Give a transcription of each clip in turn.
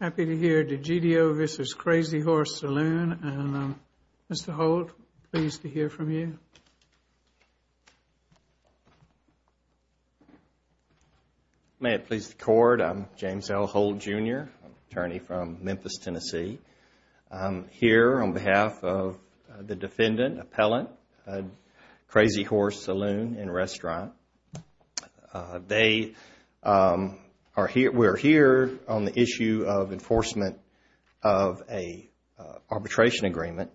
Happy to hear Degidio v. Crazy Horse Saloon. Mr. Holt, pleased to hear from you. May it please the court, I'm James L. Holt Jr., attorney from Memphis, Tennessee. I'm here on behalf of the defendant, appellant, Crazy Horse Saloon and Restaurant. We're here on the issue of enforcement of a arbitration agreement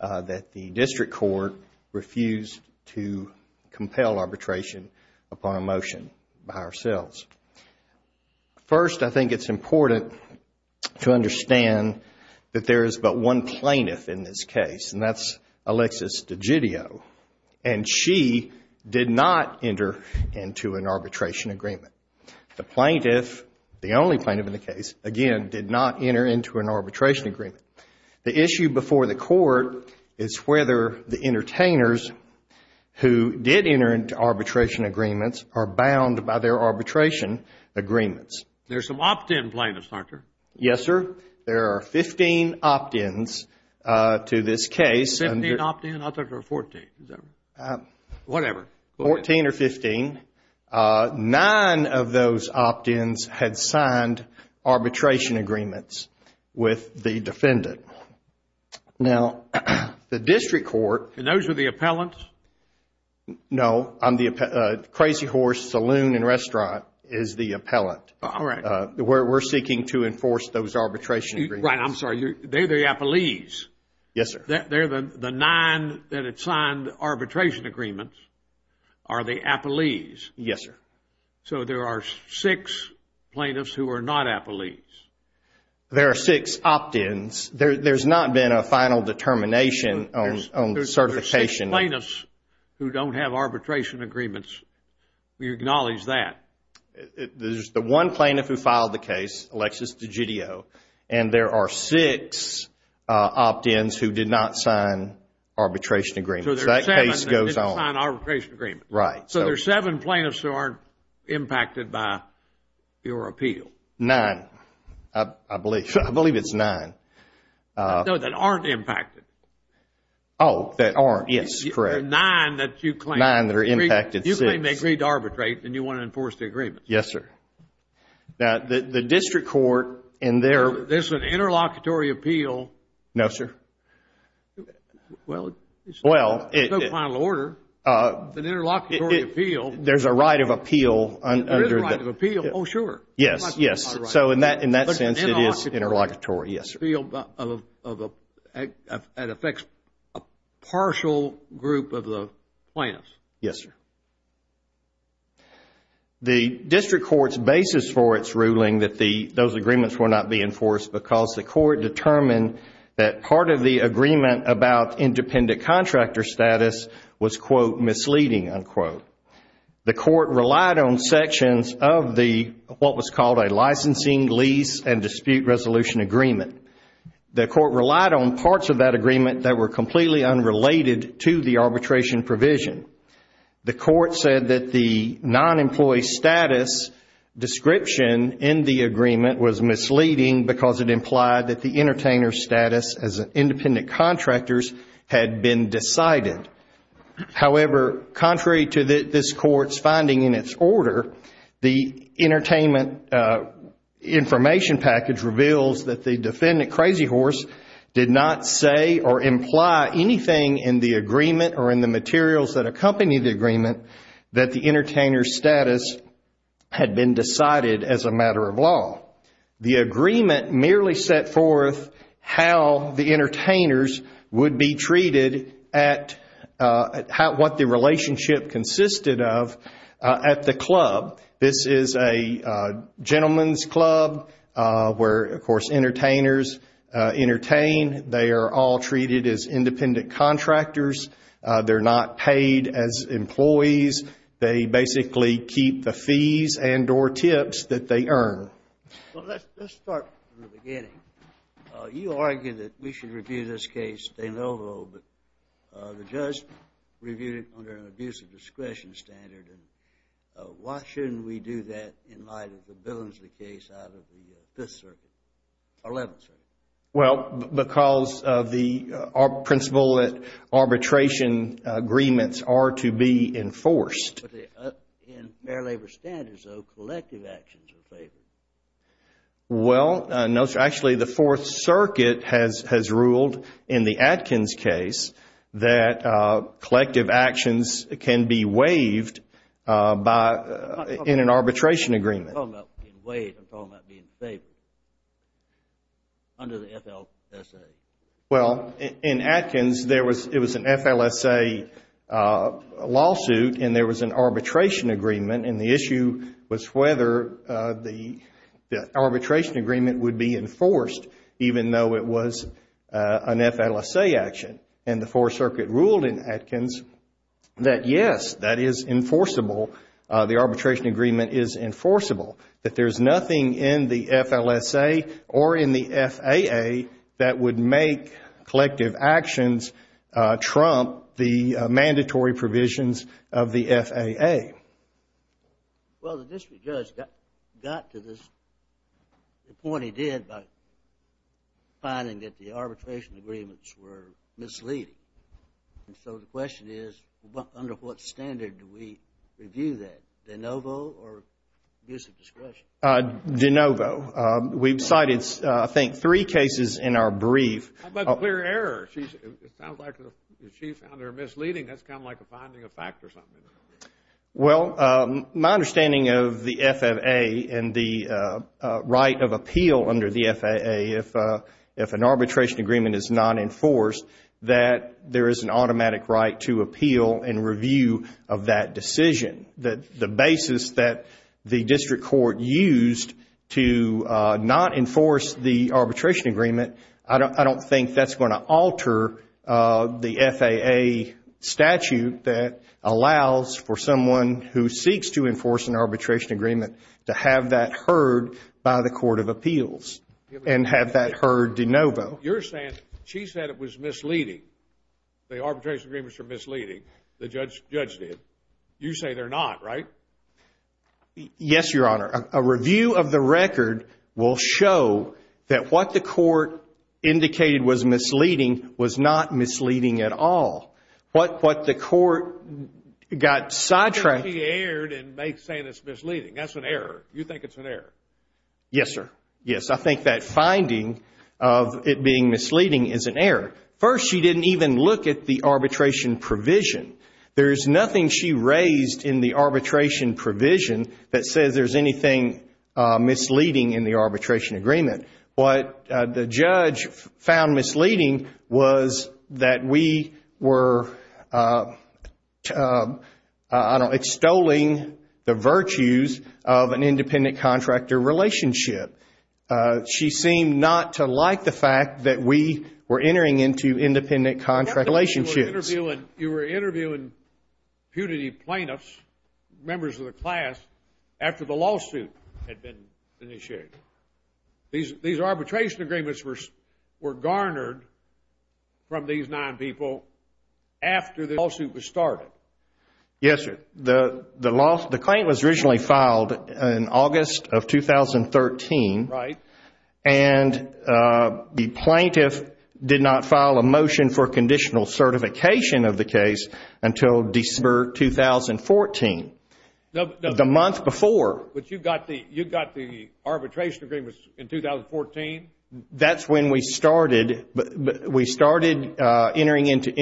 that the district court refused to compel arbitration upon a motion by ourselves. First, I think it's important to understand that there is but one plaintiff in this case, and that's Alexis Degidio. And she did not enter into an arbitration agreement. The plaintiff, the only plaintiff in the case, again, did not enter into an arbitration agreement. The issue before the court is whether the entertainers who did enter into arbitration agreements are bound by their arbitration agreements. There's some opt-in plaintiffs, doctor. Yes, sir. There are 15 opt-ins to this case. 15 opt-ins? I thought there were 14. Whatever. 14 or 15. Nine of those opt-ins had signed arbitration agreements with the defendant. Now, the district court. And those are the appellants? No, Crazy Horse Saloon and Restaurant is the appellant. All right. We're seeking to Yes, sir. The nine that had signed arbitration agreements are the appellees? Yes, sir. So, there are six plaintiffs who are not appellees? There are six opt-ins. There's not been a final determination on certification. There's six plaintiffs who don't have arbitration agreements. We acknowledge that. There's the one plaintiff who filed the case, Alexis Degidio, and there are six opt-ins who did not sign arbitration agreements. That case goes on. They didn't sign arbitration agreements. Right. So, there are seven plaintiffs who aren't impacted by your appeal? Nine. I believe it's nine. No, that aren't impacted. Oh, that aren't. Yes, correct. Nine that you claim. Nine that are impacted. You claim they agreed to arbitrate and you want to enforce the agreement. Yes, sir. Now, the district court and their There's an interlocutory appeal. No, sir. Well, it's not a final order. There's an interlocutory appeal. There's a right of appeal. There is a right of appeal. Oh, sure. Yes, yes. So, in that sense, it is interlocutory. Yes, sir. The district court's basis for its ruling that those agreements were not being enforced because the court determined that part of the agreement about independent contractor status was, quote, misleading, unquote. The court relied on sections of what was called a licensing, lease, and dispute resolution agreement. The court relied on parts of that agreement that were completely unrelated to the arbitration provision. The court said that the non-employee status description in the agreement was misleading because it implied that the entertainer's status as independent contractors had been decided. However, contrary to this court's finding in its order, the entertainment information package reveals that the defendant, Crazy Horse, did not say or imply anything in the agreement or in the materials that accompanied the agreement that the entertainer's status had been decided as a matter of law. The agreement merely set forth how the entertainers would be treated at what the relationship consisted of at the club. This is a They are all treated as independent contractors. They're not paid as employees. They basically keep the fees and or tips that they earn. Well, let's start from the beginning. You argued that we should review this case, de novo, but the judge reviewed it under an abuse of discretion standard. Why shouldn't we do that in light of the Billingsley case out of the Fifth Circuit, 11th Circuit? Well, because of the principle that arbitration agreements are to be enforced. In fair labor standards, though, collective actions are favored. Well, no. Actually, the Fourth Circuit has ruled in the Atkins case that collective actions can be waived in an arbitration agreement. I'm not talking about being waived. I'm talking about being favored under the FLSA. Well, in Atkins, it was an FLSA lawsuit and there was an arbitration agreement, and the issue was whether the arbitration agreement would be enforced, even though it was an FLSA action. The Fourth Circuit ruled in Atkins that, yes, that is enforceable, that there's nothing in the FLSA or in the FAA that would make collective actions trump the mandatory provisions of the FAA. Well, the district judge got to the point he did by finding that the arbitration agreements were misleading, and so the question is, under what standard do we review that? De novo or use of discretion? De novo. We've cited, I think, three cases in our brief. How about the clear error? It sounds like she found it misleading. That's kind of like a finding of fact or something. Well, my understanding of the FAA and the right of appeal under the FAA, if an arbitration agreement is not enforced, that there is an arbitration agreement. I don't think that's going to alter the FAA statute that allows for someone who seeks to enforce an arbitration agreement to have that heard by the Court of Appeals and have that heard de novo. You're saying she said it was misleading, the arbitration agreements were misleading, the judge did. You say they're not, right? Yes, Your Honor. A review of the record will show that what the court indicated was misleading was not misleading at all. What the court got sidetracked... She erred in saying it's misleading. That's an error. You think it's an error? Yes, sir. Yes, I think that finding of it being misleading is an error. First, she didn't even look at the arbitration provision. There's nothing she raised in the arbitration provision that says there's anything misleading in the arbitration agreement. What the judge found misleading was that we were, I don't know, extolling the virtues of an independent contractor relationship. She seemed not to like the fact that we were entering into independent contract relationships. You were interviewing punitive plaintiffs, members of the class, after the lawsuit had been initiated. These arbitration agreements were garnered from these nine people after the lawsuit was started. Yes, sir. The claim was originally filed in August of 2013, and the plaintiff did not file a motion for conditional certification of the case until December 2014, the month before. But you got the arbitration agreement in 2014? That's when we started entering into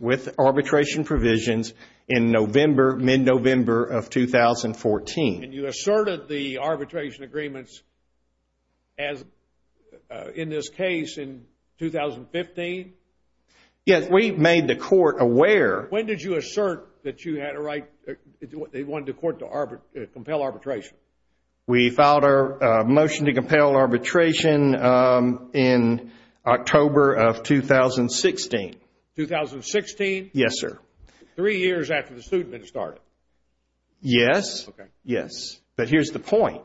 with arbitration provisions in mid-November of 2014. And you asserted the arbitration agreements in this case in 2015? Yes, we made the court aware. When did you assert that they wanted the court to compel arbitration? We filed our motion to compel arbitration in October of 2016. 2016? Yes, sir. Three years after the suit had been started? Yes, yes. But here's the point.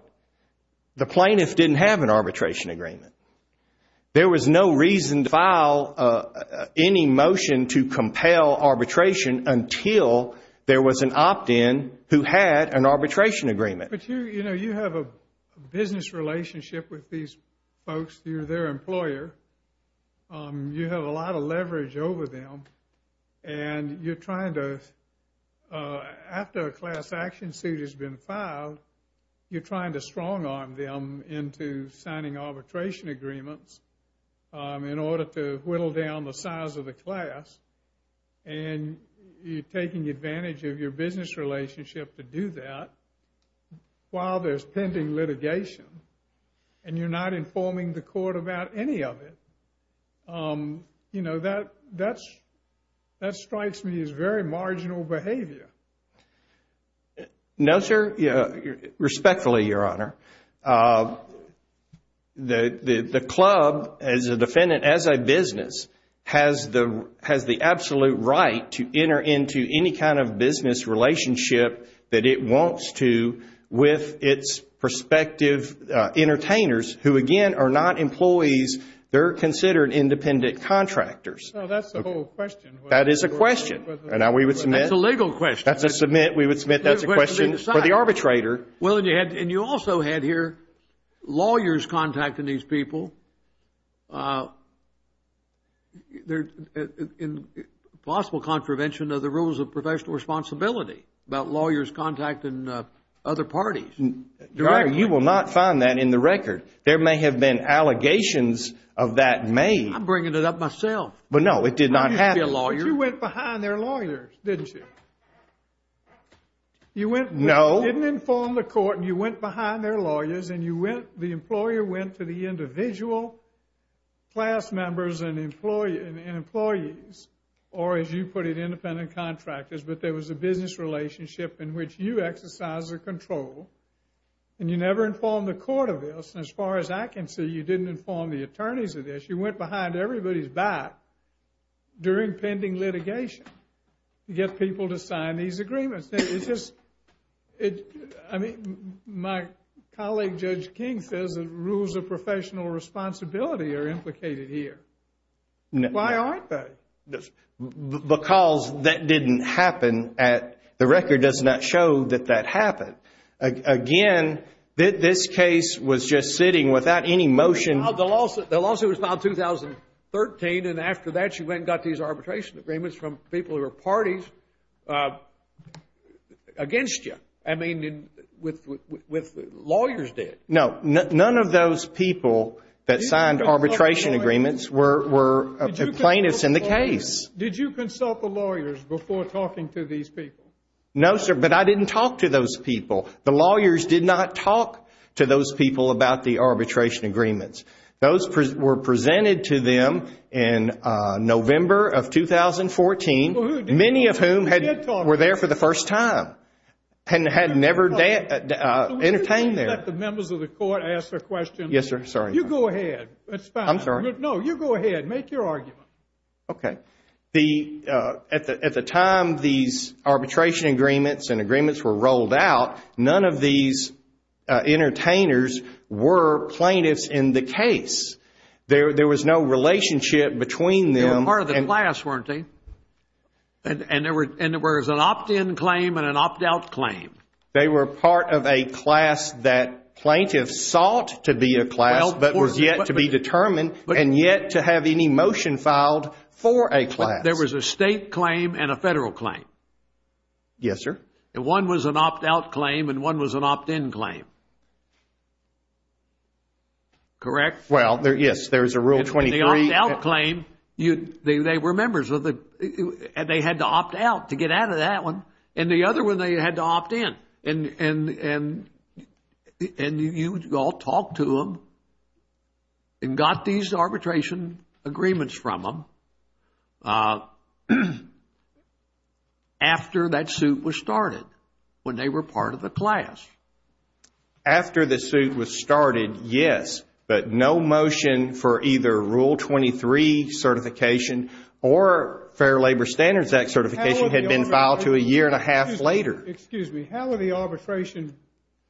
The plaintiff didn't have an arbitration agreement. There was no reason to file any motion to compel arbitration until there was an opt-in who had an arbitration agreement. But you have a business relationship with these folks. You're their employer. You have a lot of leverage over them. And you're trying to, after a class action suit has been filed, you're trying to strong-arm them into signing arbitration agreements in order to whittle down the size of the class. And you're taking advantage of your business relationship to do that while there's pending litigation. And you're not informing the court about any of it. You know, that strikes me as very marginal behavior. No, sir. Respectfully, Your Honor. The club, as a defendant, as a business, has the absolute right to enter into any kind of entertainers who, again, are not employees. They're considered independent contractors. So that's the whole question. That is a question. And now we would submit. That's a legal question. That's a submit. We would submit that's a question for the arbitrator. Well, and you also had here lawyers contacting these people in possible contravention of the rules of professional responsibility about lawyers contacting other parties. You will not find that in the record. There may have been allegations of that made. I'm bringing it up myself. But no, it did not happen. I used to be a lawyer. But you went behind their lawyers, didn't you? You went. No. You didn't inform the court. And you went behind their lawyers. And you went, the employer went to the individual class members and employees. Or as you put it, independent contractors. But there was a business relationship in which you exercise the control and you never informed the court of this. And as far as I can see, you didn't inform the attorneys of this. You went behind everybody's back during pending litigation to get people to sign these agreements. It's just, I mean, my colleague Judge King says that rules of professional responsibility are implicated here. Why aren't they? Because that didn't happen at, the record does not show that that happened. Again, this case was just sitting without any motion. The lawsuit was filed in 2013. And after that, you went and got these arbitration agreements from people who were parties against you. I mean, with lawyers dead. No, none of those people that signed arbitration agreements were plaintiffs in the case. Did you consult the lawyers before talking to these people? No, sir. But I didn't talk to those people. The lawyers did not talk to those people about the arbitration agreements. Those were presented to them in November of 2014. Many of whom were there for the first time and had never entertained them. The members of the court asked a question. Yes, sir. Sorry. You go ahead. That's fine. I'm sorry. No, you go ahead. Make your argument. Okay. At the time these arbitration agreements and agreements were rolled out, none of these entertainers were plaintiffs in the case. There was no relationship between them. They were part of the class, weren't they? And there was an opt-in claim and an opt-out claim. They were part of a class that plaintiffs sought to be a class, but was yet to be determined, and yet to have any motion filed for a class. There was a state claim and a federal claim. Yes, sir. One was an opt-out claim and one was an opt-in claim. Correct? Well, yes. There's a Rule 23. And the opt-out claim, they were members of the... And they had to opt out to get out of that one. And the other one, they had to opt in. And you all talked to them and got these arbitration agreements from them after that suit was started, when they were part of the class. After the suit was started, yes, but no motion for either Rule 23 certification or Fair Labor Standards Act certification had been filed to a year and a half later. Excuse me. How were the arbitration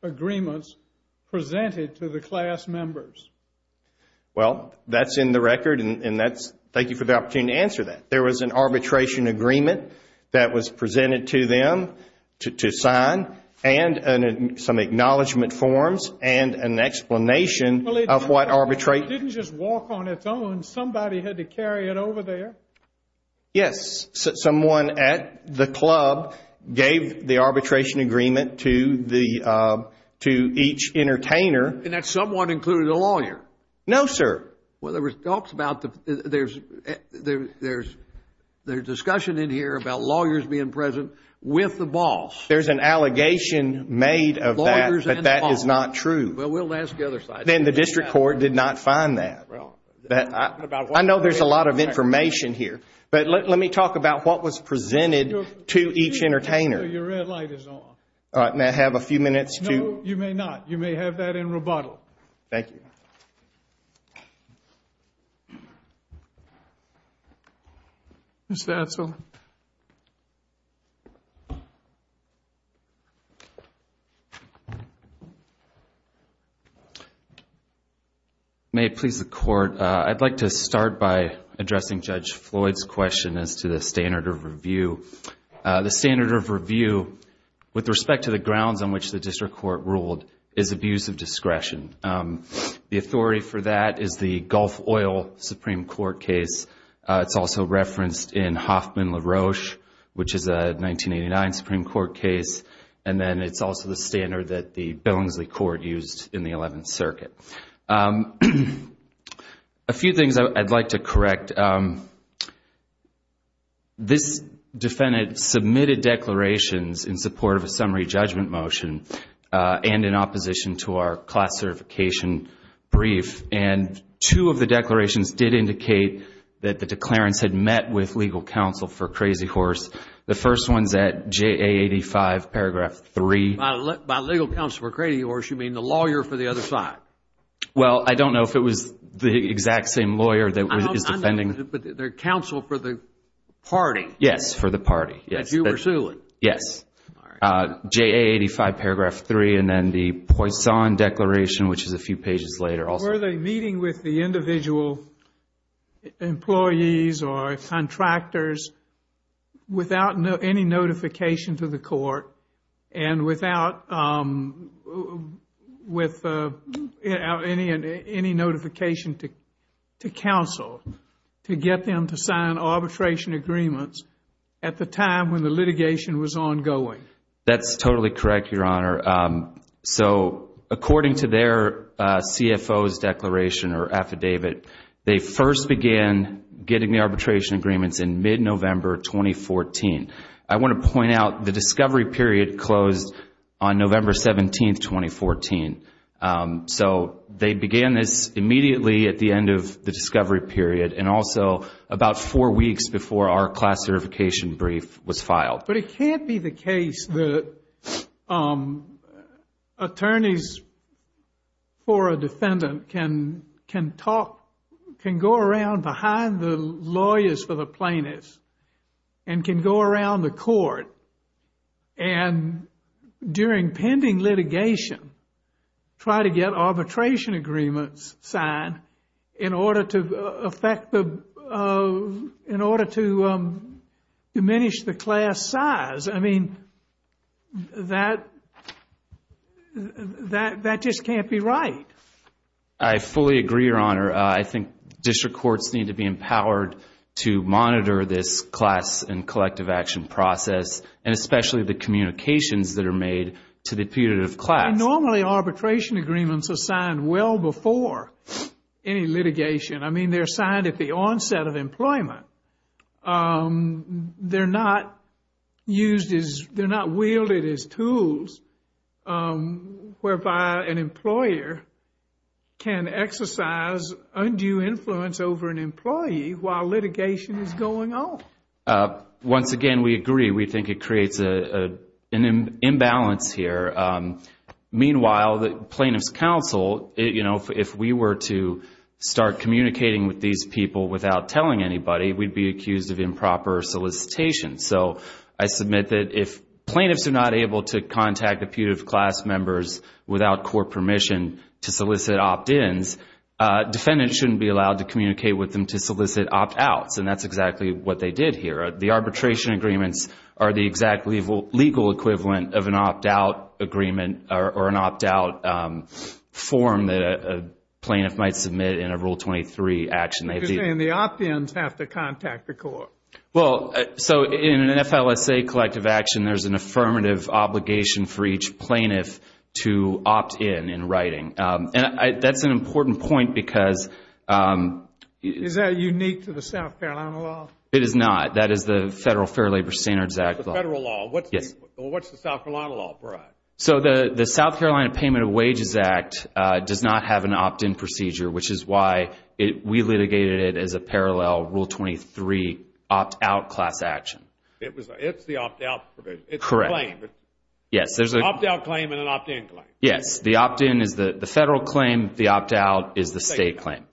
agreements presented to the class members? Well, that's in the record and that's... Thank you for the opportunity to answer that. There was an arbitration agreement that was presented to them to sign and some acknowledgement forms and an explanation of what arbitrate... It didn't just walk on its own. Somebody had to carry it over there. Yes, someone at the club gave the arbitration agreement to each entertainer. And that someone included a lawyer? No, sir. Well, there was talks about... There's discussion in here about lawyers being present with the boss. There's an allegation made of that, but that is not true. Well, we'll ask the other side. Then the district court did not find that. I know there's a lot of information here, but let me talk about what was presented to each entertainer. Your red light is on. All right, may I have a few minutes to... No, you may not. You may have that in rebuttal. Thank you. Mr. Edsel. May it please the court. I'd like to start by addressing Judge Floyd's question as to the standard of review. The standard of review, with respect to the grounds on which the district court ruled, is abuse of discretion. The authority for that is the Gulf Oil Supreme Court case. It's also referenced in Hoffman-LaRoche, which is a 1989 Supreme Court case. And then it's also the standard that the Billingsley Court used in the 11th Circuit. A few things I'd like to correct. This defendant submitted declarations in support of a summary judgment motion and in opposition to our class certification brief. And two of the declarations did indicate that the declarants had met with legal counsel for Crazy Horse. The first one's at JA85, paragraph 3. By legal counsel for Crazy Horse, you mean the lawyer for the other side? Well, I don't know if it was the exact same lawyer that is defending... But they're counsel for the party. Yes, for the party. That you were suing. Yes. JA85, paragraph 3. And then the Poisson Declaration, which is a few pages later. Were they meeting with the individual employees or contractors without any notification to the court and without any notification to counsel to get them to sign arbitration agreements at the time when the litigation was ongoing? That's totally correct, Your Honor. So according to their CFO's declaration or affidavit, they first began getting the arbitration agreements in mid-November 2014. I want to point out the discovery period closed on November 17, 2014. So they began this immediately at the end of the discovery period and also about four weeks before our class certification brief was filed. But it can't be the case that attorneys for a defendant can talk, can go around behind the lawyers for the plaintiffs and can go around the court and during pending litigation, try to get arbitration agreements signed in order to affect the, in order to diminish the class size. I mean, that just can't be right. I fully agree, Your Honor. I think district courts need to be empowered to monitor this class and collective action process and especially the communications that are made to the punitive class. Normally, arbitration agreements are signed well before any litigation. I mean, they're signed at the onset of employment. They're not used as, they're not wielded as tools whereby an employer can exercise undue influence over an employee while litigation is going on. Once again, we agree. We think it creates an imbalance here. Meanwhile, the plaintiff's counsel, if we were to start communicating with these people without telling anybody, we'd be accused of improper solicitation. So I submit that if plaintiffs are not able to contact the punitive class members without court permission to solicit opt-ins, defendants shouldn't be allowed to communicate with them to solicit opt-outs. And that's exactly what they did here. The arbitration agreements are the exact legal equivalent of an opt-out agreement or an opt-out form that a plaintiff might submit in a Rule 23 action. You're saying the opt-ins have to contact the court. Well, so in an FLSA collective action, there's an affirmative obligation for each plaintiff to opt-in in writing. That's an important point because... Is that unique to the South Carolina law? It is not. That is the Federal Fair Labor Standards Act law. The federal law. What's the South Carolina law, Brad? So the South Carolina Payment of Wages Act does not have an opt-in procedure, which is why we litigated it as a parallel Rule 23 opt-out class action. It's the opt-out provision. It's a claim. Yes. There's an opt-out claim and an opt-in claim. Yes. The opt-in is the federal claim. The opt-out is the state claim.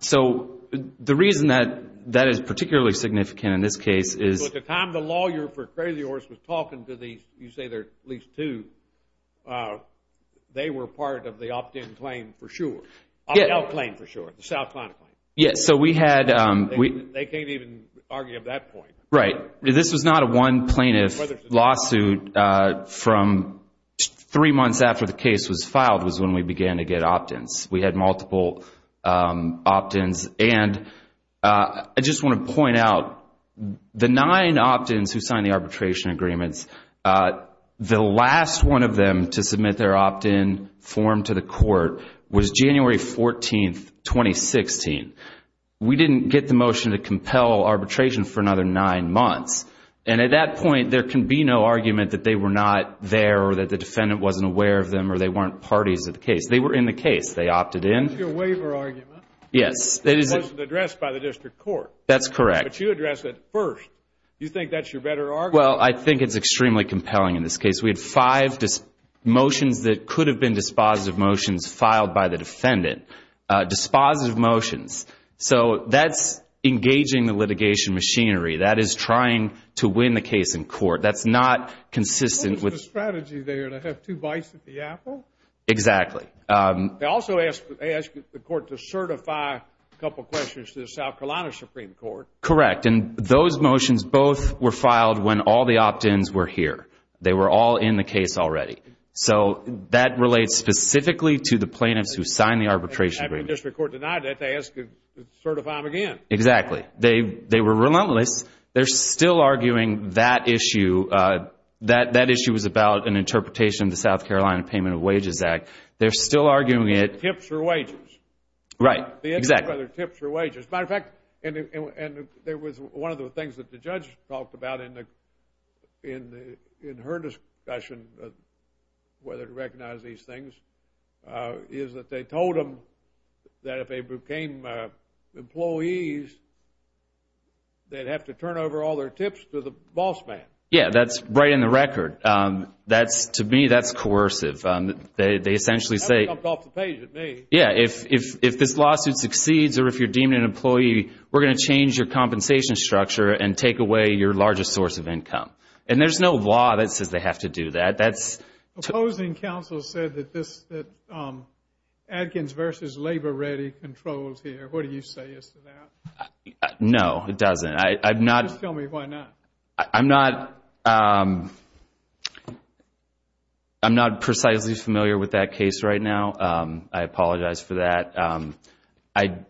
So the reason that that is particularly significant in this case is... So at the time the lawyer for Crazy Horse was talking to these, you say there are at least two, they were part of the opt-in claim for sure. Opt-out claim for sure. The South Carolina claim. Yes. So we had... They can't even argue at that point. Right. This was not a one plaintiff lawsuit from three months after the case was filed was when we began to get opt-ins. We had multiple opt-ins. And I just want to point out the nine opt-ins who signed the arbitration agreements, the last one of them to submit their opt-in form to the court was January 14, 2016. We didn't get the motion to compel arbitration for another nine months. And at that point, there can be no argument that they were not there or that the defendant wasn't aware of them or they weren't parties of the case. They were in the case. They opted in. That's your waiver argument. Yes. It wasn't addressed by the district court. That's correct. But you addressed it first. Do you think that's your better argument? Well, I think it's extremely compelling in this case. We had five motions that could have been dispositive motions filed by the defendant. Dispositive motions. So that's engaging the litigation machinery. That is trying to win the case in court. That's not consistent with... The strategy there to have two bites at the apple. Exactly. They also asked the court to certify a couple of questions to the South Carolina Supreme Court. Correct. And those motions both were filed when all the opt-ins were here. They were all in the case already. So that relates specifically to the plaintiffs who signed the arbitration agreement. And the district court denied that. They asked to certify them again. Exactly. They were relentless. They're still arguing that issue. That issue was about an interpretation of the South Carolina Payment of Wages Act. They're still arguing it. Tips or wages. Right. The issue of whether tips or wages. As a matter of fact, and there was one of the things that the judge talked about in her discussion of whether to recognize these things, is that they told them that if they became employees, they'd have to turn over all their tips to the boss man. Yeah, that's right in the record. To me, that's coercive. They essentially say... That's what comes off the page to me. Yeah, if this lawsuit succeeds or if you're deemed an employee, we're going to change your compensation structure and take away your largest source of income. And there's no law that says they have to do that. Opposing counsel said that Adkins v. Labor Ready controls here. What do you say as to that? No, it doesn't. Just tell me why not. I'm not precisely familiar with that case right now. I apologize for that.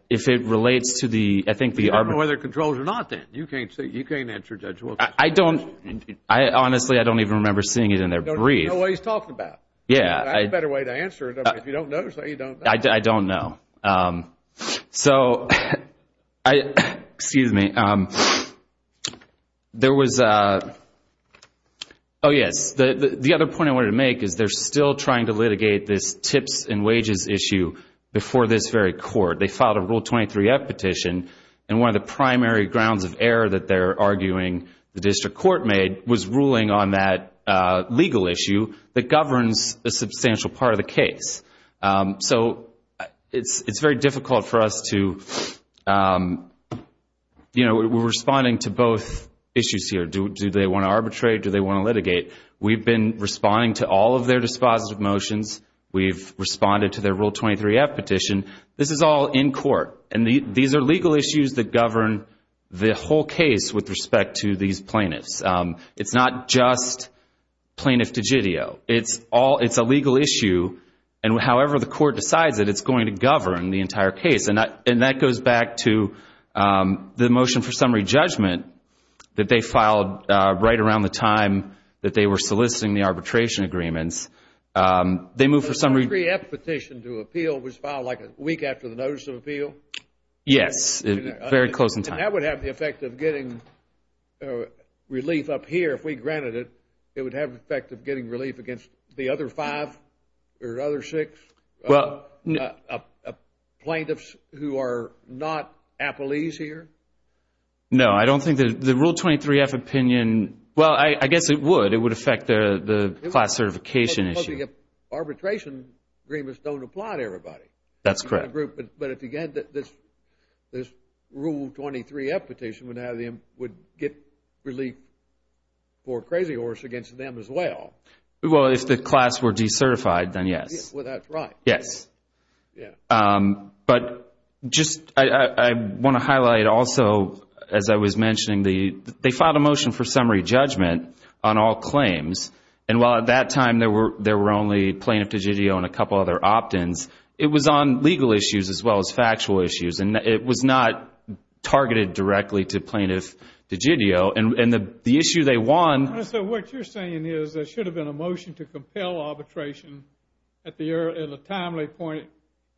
If it relates to the... We don't know whether it controls or not, then. You can't answer, Judge Wilkinson. I don't... Honestly, I don't even remember seeing it in their brief. There's no way he's talking about it. Yeah. I have a better way to answer it. If you don't know, say you don't know. I don't know. So, excuse me. There was... Oh, yes. The other point I wanted to make is they're still trying to litigate this tips and wages issue before this very court. They filed a Rule 23-F petition. And one of the primary grounds of error that they're arguing the district court made was ruling on that legal issue that governs a substantial part of the case. So, it's very difficult for us to... You know, we're responding to both issues here. Do they want to arbitrate? Do they want to litigate? We've been responding to all of their dispositive motions. We've responded to their Rule 23-F petition. This is all in court. And these are legal issues that govern the whole case with respect to these plaintiffs. It's not just plaintiff de judeo. It's all... It's a legal issue. And however the court decides it, it's going to govern the entire case. And that goes back to the motion for summary judgment that they filed right around the time that they were soliciting the arbitration agreements. They moved for summary... Rule 23-F petition to appeal was filed like a week after the notice of appeal? Yes, very close in time. And that would have the effect of getting relief up here if we granted it. It would have the effect of getting relief against the other five or other six plaintiffs who are not appellees here? No, I don't think the Rule 23-F opinion... Well, I guess it would. It would affect the class certification issue. Arbitration agreements don't apply to everybody. That's correct. But again, this Rule 23-F petition would get relief for Crazy Horse against them as well. Well, if the class were decertified, then yes. Well, that's right. Yes. But I want to highlight also, as I was mentioning, they filed a motion for summary judgment on all claims. And while at that time there were only plaintiff de judeo and a couple other opt-ins, it was on legal issues as well as factual issues. And it was not targeted directly to plaintiff de judeo. And the issue they won... So what you're saying is there should have been a motion to compel arbitration at a timely point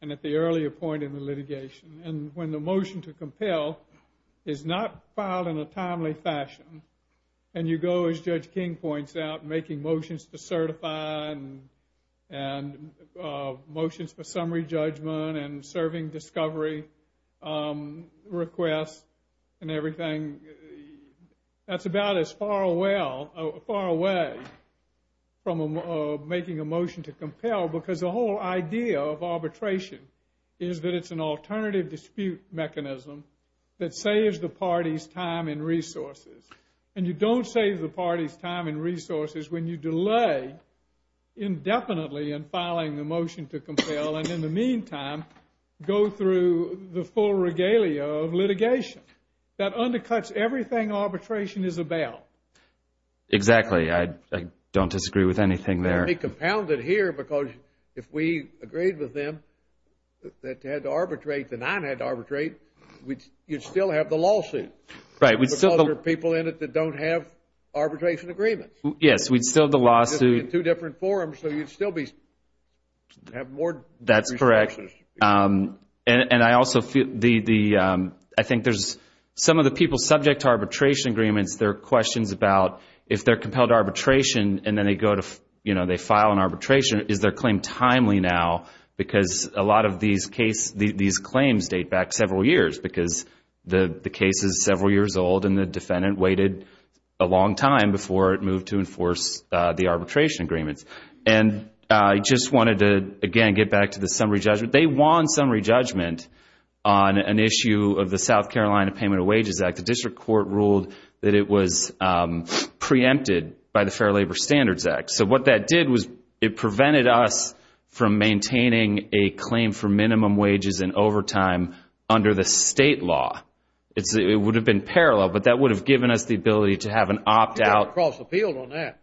and at the earlier point in the litigation. And when the motion to compel is not filed in a timely fashion, and you go, as Judge King points out, making motions to certify and motions for summary judgment and serving discovery requests and everything, that's about as far away from making a motion to compel. Because the whole idea of arbitration is that it's an alternative dispute mechanism that saves the party's time and resources. And you don't save the party's time and resources when you delay indefinitely in filing a motion to compel and in the meantime, go through the full regalia of litigation. That undercuts everything arbitration is about. Exactly. I don't disagree with anything there. Let me compound it here because if we agreed with them that they had to arbitrate, the nine had to arbitrate, you'd still have the lawsuit. Right. Because there are people in it that don't have arbitration agreements. Yes, we'd still have the lawsuit. Two different forums, so you'd still have more resources. That's correct. And I think there's some of the people subject to arbitration agreements, there are questions about if they're compelled to arbitration and then they file an arbitration, is their claim timely now? Because a lot of these claims date back several years because the case is several years old and the defendant waited a long time before it moved to enforce the arbitration agreements. And I just wanted to, again, get back to the summary judgment. They won summary judgment on an issue of the South Carolina Payment of Wages Act. The district court ruled that it was preempted by the Fair Labor Standards Act. So what that did was it prevented us from maintaining a claim for minimum wages and overtime under the state law. It would have been parallel, but that would have given us the ability to have an opt-out. You'd have to cross the field on that.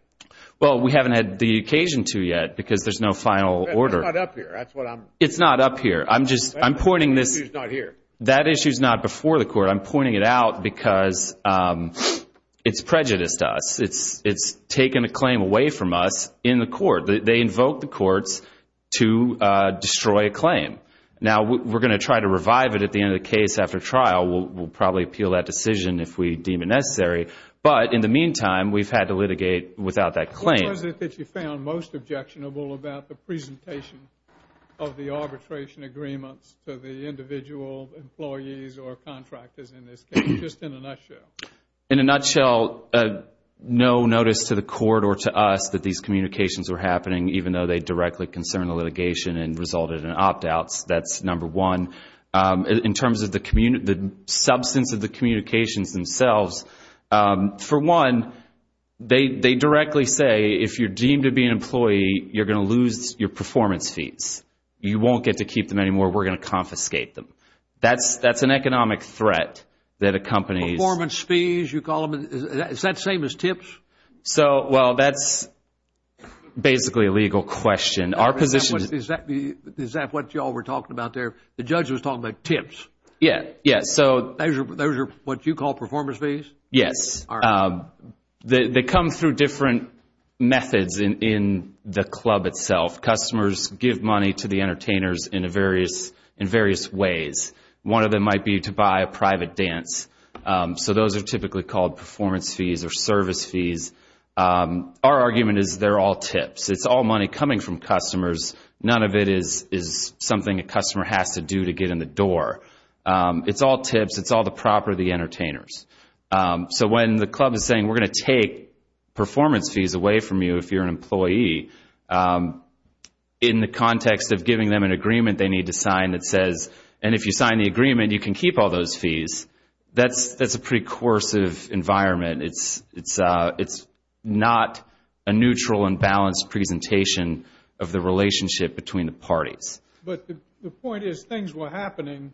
Well, we haven't had the occasion to yet because there's no final order. It's not up here. That's what I'm... It's not up here. I'm just... I'm pointing this... That issue's not here. That issue's not before the court. I'm pointing it out because it's prejudiced us. It's taken a claim away from us in the court. They invoke the courts to destroy a claim. Now, we're going to try to revive it at the end of the case after trial. We'll probably appeal that decision if we deem it necessary. But in the meantime, we've had to litigate without that claim. What is it that you found most objectionable about the presentation of the arbitration agreements to the individual employees or contractors in this case, just in a nutshell? In a nutshell, no notice to the court or to us that these communications were happening, even though they directly concern the litigation and resulted in opt-outs. That's number one. In terms of the substance of the communications themselves, for one, they directly say, if you're deemed to be an employee, you're going to lose your performance fees. You won't get to keep them anymore. We're going to confiscate them. That's an economic threat that accompanies... Performance fees, you call them. Is that same as tips? So, well, that's basically a legal question. Our position... Is that what you all were talking about there? The judge was talking about tips. Yeah, yeah. Those are what you call performance fees? Yes. They come through different methods in the club itself. Customers give money to the entertainers in various ways. One of them might be to buy a private dance. So those are typically called performance fees or service fees. Our argument is they're all tips. It's all money coming from customers. None of it is something a customer has to do to get in the door. It's all tips. It's all the property entertainers. So when the club is saying, we're going to take performance fees away from you if you're an employee, in the context of giving them an agreement they need to sign that says, and if you sign the agreement, you can keep all those fees. That's a pretty coercive environment. It's not a neutral and balanced presentation of the relationship between the parties. But the point is things were happening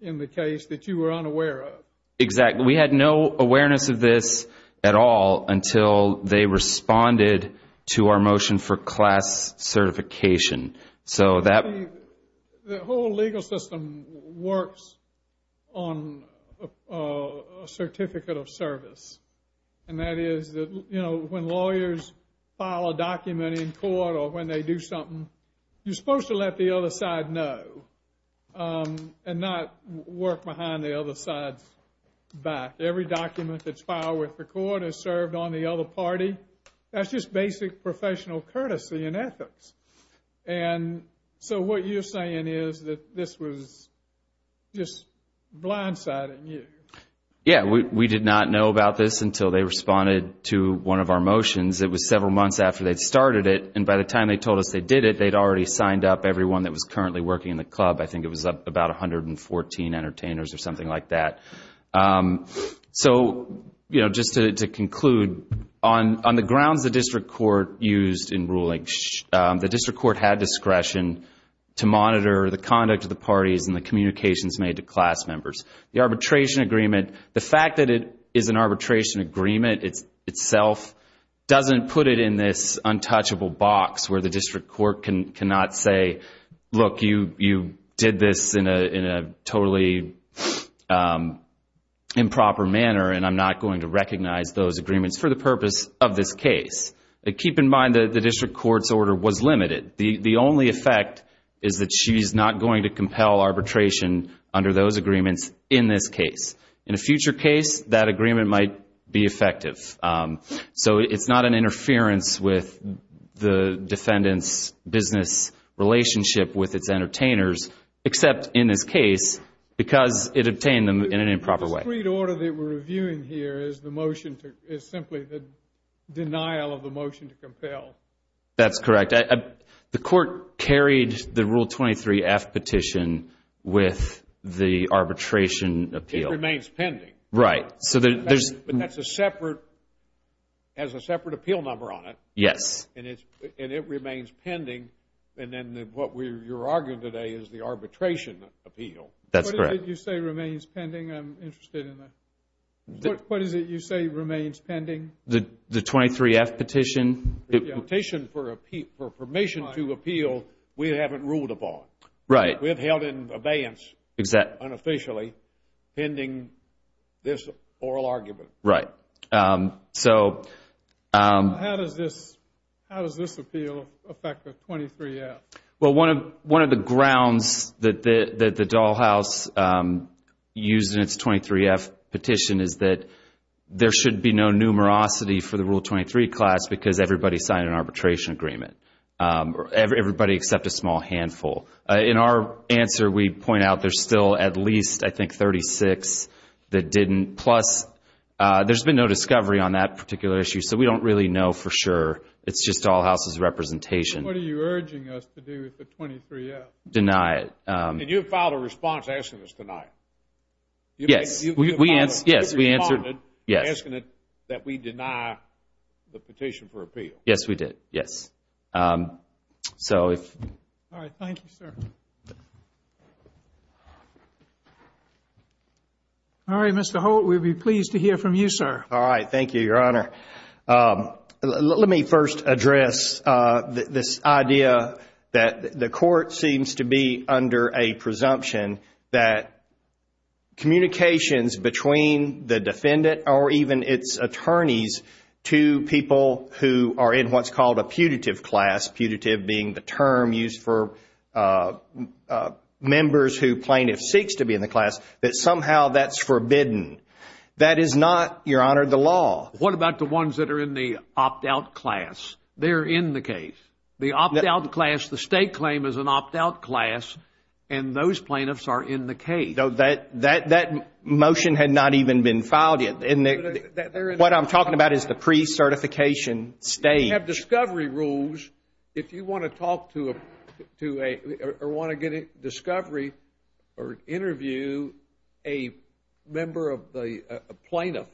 in the case that you were unaware of. Exactly. We had no awareness of this at all until they responded to our motion for class certification. The whole legal system works on a certificate of service. And that is when lawyers file a document in court or when they do something, you're supposed to let the other side know and not work behind the other side's back. Every document that's filed with the court is served on the other party. That's just basic professional courtesy and ethics. And so what you're saying is that this was just blindsiding you. Yeah, we did not know about this until they responded to one of our motions. It was several months after they'd started it. And by the time they told us they did it, they'd already signed up everyone that was currently working in the club. I think it was about 114 entertainers or something like that. So just to conclude, on the grounds the district court used in ruling, the district court had discretion to monitor the conduct of the parties and the communications made to class members. The arbitration agreement, the fact that it is an arbitration agreement itself doesn't put it in this untouchable box where the district court cannot say, look, you did this in a totally improper manner and I'm not going to recognize those agreements for the purpose of this case. Keep in mind that the district court's order was limited. The only effect is that she's not going to compel arbitration under those agreements in this case. In a future case, that agreement might be effective. So it's not an interference with the defendant's business relationship with its entertainers, except in this case, because it obtained them in an improper way. The street order that we're reviewing here is the motion to, is simply the denial of the motion to compel. That's correct. The court carried the Rule 23-F petition with the arbitration appeal. It remains pending. Right. But that's a separate, has a separate appeal number on it. Yes. And it remains pending. And then what you're arguing today is the arbitration appeal. That's correct. You say remains pending. I'm interested in that. What is it you say remains pending? The 23-F petition. The petition for permission to appeal, we haven't ruled upon. Right. We have held it in abeyance, unofficially, pending this oral argument. Right. How does this appeal affect the 23-F? Well, one of the grounds that the Dull House used in its 23-F petition is that there should be no numerosity for the Rule 23 class because everybody signed an arbitration agreement. Everybody except a small handful. In our answer, we point out there's still at least, I think, 36 that didn't. Plus, there's been no discovery on that particular issue. So we don't really know for sure. It's just Dull House's representation. What are you urging us to do with the 23-F? Deny it. And you filed a response asking us tonight. Yes. Yes, we answered. Yes. Asking that we deny the petition for appeal. Yes, we did. Yes. So if... All right. Thank you, sir. All right, Mr. Holt. We'd be pleased to hear from you, sir. All right. Thank you, Your Honor. Let me first address this idea that the court seems to be under a presumption that communications between the defendant or even its attorneys to people who are in what's putative being the term used for members who plaintiff seeks to be in the class, that somehow that's forbidden. That is not, Your Honor, the law. What about the ones that are in the opt-out class? They're in the case. The opt-out class, the state claim is an opt-out class, and those plaintiffs are in the case. That motion had not even been filed yet. What I'm talking about is the pre-certification stage. Discovery rules, if you want to talk to or want to get a discovery or interview a member of the plaintiff,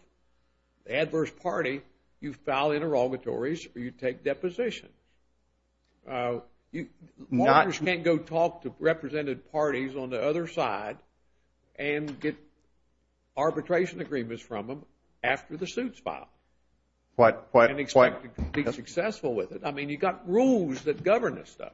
adverse party, you file interrogatories or you take deposition. Lawyers can't go talk to represented parties on the other side and get arbitration agreements from them after the suit's filed. What? And expect to be successful with it. I mean, you've got rules that govern this stuff.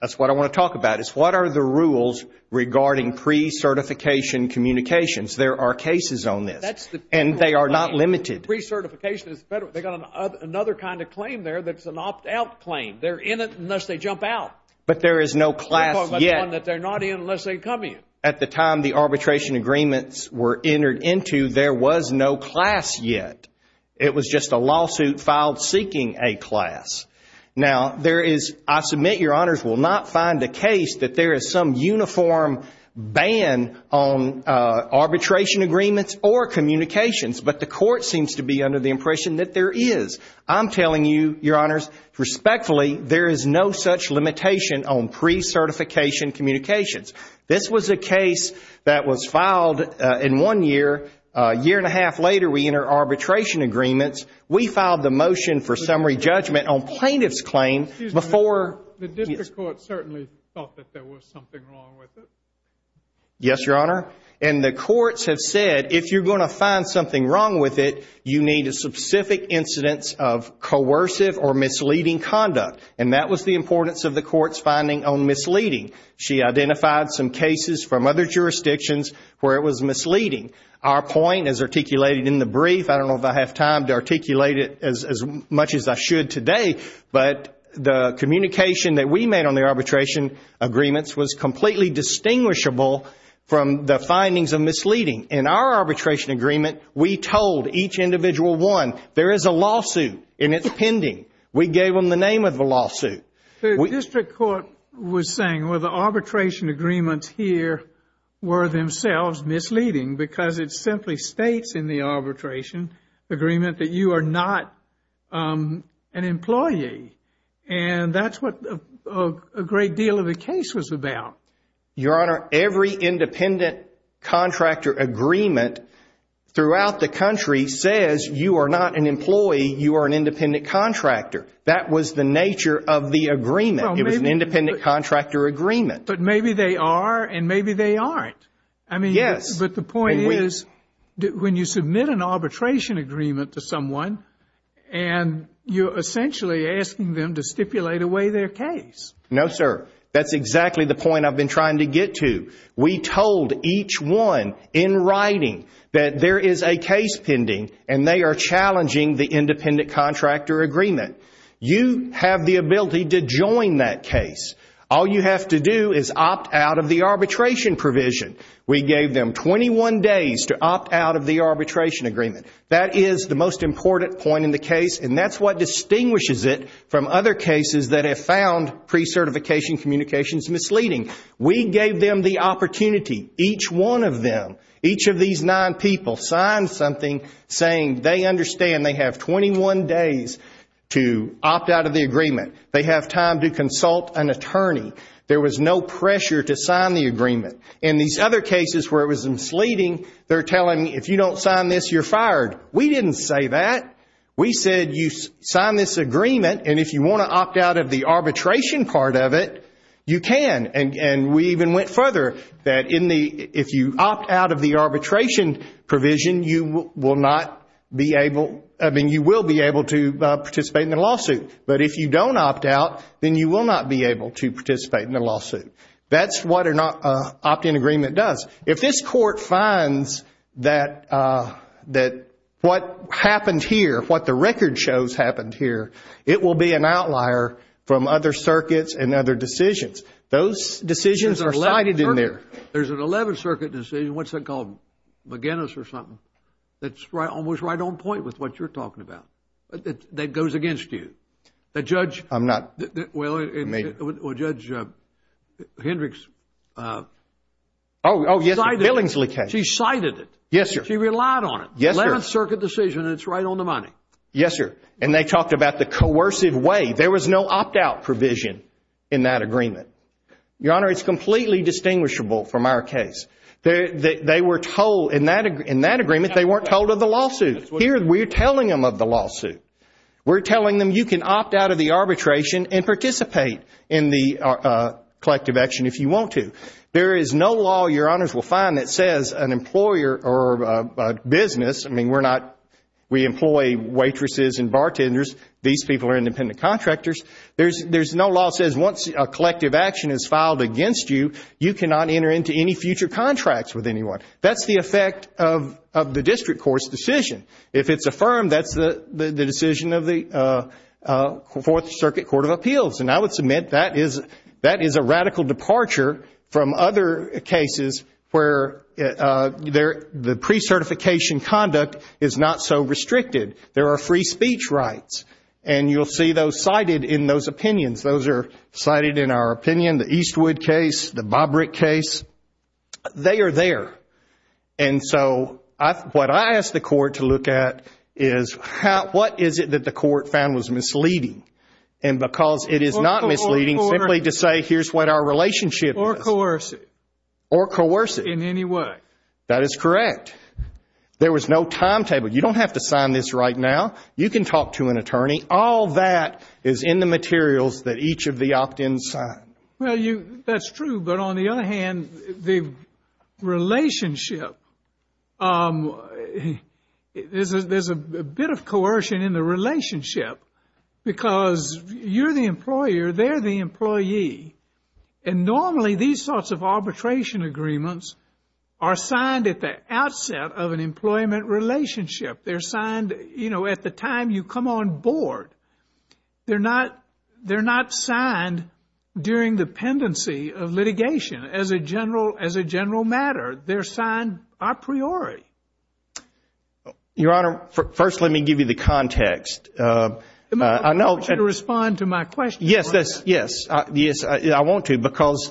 That's what I want to talk about is what are the rules regarding pre-certification communications? There are cases on this, and they are not limited. Pre-certification is federal. They've got another kind of claim there that's an opt-out claim. They're in it unless they jump out. But there is no class yet. That they're not in unless they come in. At the time the arbitration agreements were entered into, there was no class yet. It was just a lawsuit filed seeking a class. Now there is, I submit your honors, will not find a case that there is some uniform ban on arbitration agreements or communications, but the court seems to be under the impression that there is. I'm telling you, your honors, respectfully, there is no such limitation on pre-certification communications. This was a case that was filed in one year. A year and a half later, we enter arbitration agreements. We filed the motion for summary judgment on plaintiff's claim before... Excuse me. The district court certainly thought that there was something wrong with it. Yes, your honor. And the courts have said, if you're going to find something wrong with it, you need a specific incidence of coercive or misleading conduct. And that was the importance of the court's finding on misleading. She identified some cases from other jurisdictions where it was misleading. Our point is articulated in the brief. I don't know if I have time to articulate it as much as I should today, but the communication that we made on the arbitration agreements was completely distinguishable from the findings of misleading. In our arbitration agreement, we told each individual one, there is a lawsuit and it's pending. We gave them the name of the lawsuit. The district court was saying, well, the arbitration agreements here were themselves misleading because it simply states in the arbitration agreement that you are not an employee. And that's what a great deal of the case was about. Your honor, every independent contractor agreement throughout the country says you are not an employee. You are an independent contractor. That was the nature of the agreement. It was an independent contractor agreement. But maybe they are and maybe they aren't. I mean, yes. But the point is when you submit an arbitration agreement to someone and you're essentially asking them to stipulate away their case. No, sir. That's exactly the point I've been trying to get to. We told each one in writing that there is a case pending and they are challenging the independent contractor agreement. You have the ability to join that case. All you have to do is opt out of the arbitration provision. We gave them 21 days to opt out of the arbitration agreement. That is the most important point in the case. And that's what distinguishes it from other cases that have found pre-certification communications misleading. We gave them the opportunity. Each one of them, each of these nine people signed something saying they understand they have 21 days to opt out of the agreement. They have time to consult an attorney. There was no pressure to sign the agreement. In these other cases where it was misleading, they're telling me if you don't sign this, you're fired. We didn't say that. We said you sign this agreement and if you want to opt out of the arbitration part of it, you can. And we even went further that if you opt out of the arbitration provision, you will be able to participate in the lawsuit. But if you don't opt out, then you will not be able to participate in the lawsuit. That's what an opt-in agreement does. If this court finds that what happened here, what the record shows happened here, it will be an outlier from other circuits and other decisions. Those decisions are cited in there. There's an 11th Circuit decision, what's that called, McGinnis or something, that's almost right on point with what you're talking about, that goes against you. The judge... I'm not... Well, Judge Hendricks... Oh, yes, Billingsley case. She cited it. Yes, sir. She relied on it. Yes, sir. 11th Circuit decision and it's right on the money. Yes, sir. And they talked about the coercive way. There was no opt-out provision in that agreement. Your Honor, it's completely distinguishable from our case. They were told in that agreement, they weren't told of the lawsuit. Here, we're telling them of the lawsuit. We're telling them you can opt out of the arbitration and participate in the collective action if you want to. There is no law, Your Honors will find, that says an employer or a business, I mean, we employ waitresses and bartenders. These people are independent contractors. There's no law that says once a collective action is filed against you, you cannot enter into any future contracts with anyone. That's the effect of the district court's decision. If it's affirmed, that's the decision of the Fourth Circuit Court of Appeals. And I would submit that is a radical departure from other cases where the pre-certification conduct is not so restricted. There are free speech rights and you'll see those cited in those opinions. Those are cited in our opinion, the Eastwood case, the Bobrick case. They are there. And so, what I ask the court to look at is what is it that the court found was misleading? And because it is not misleading, simply to say here's what our relationship is. Or coercive. Or coercive. In any way. That is correct. There was no timetable. You don't have to sign this right now. You can talk to an attorney. All that is in the materials that each of the opt-ins signed. Well, that's true. But on the other hand, the relationship, there's a bit of coercion in the relationship. Because you're the employer. They're the employee. And normally, these sorts of arbitration agreements are signed at the outset of an employment relationship. They're signed, you know, at the time you come on board. They're not signed during the pendency of litigation. As a general matter, they're signed a priori. Your Honor, first, let me give you the context. I want you to respond to my question. Yes. Yes. I want to. Because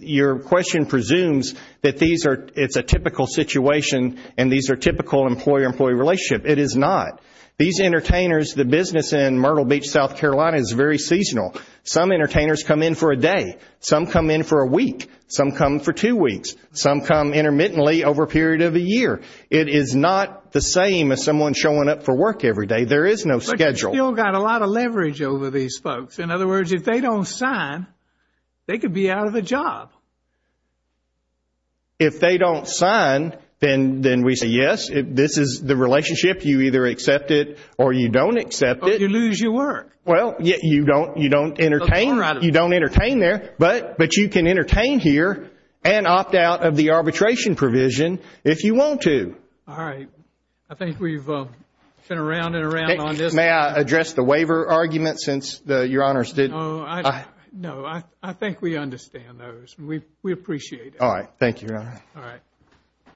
your question presumes that it's a typical situation and these are typical employer-employee relationship. It is not. These entertainers, the business in Myrtle Beach, South Carolina is very seasonal. Some entertainers come in for a day. Some come in for a week. Some come for two weeks. Some come intermittently over a period of a year. It is not the same as someone showing up for work every day. There is no schedule. But you've still got a lot of leverage over these folks. In other words, if they don't sign, they could be out of a job. If they don't sign, then we say yes. This is the relationship. You either accept it or you don't accept it. But you lose your work. Well, you don't entertain. You don't entertain there. But you can entertain here and opt out of the arbitration provision if you want to. All right. I think we've been around and around on this. May I address the waiver argument since your Honors did? No, I think we understand those. We appreciate it. All right. Thank you, Your Honor. All right.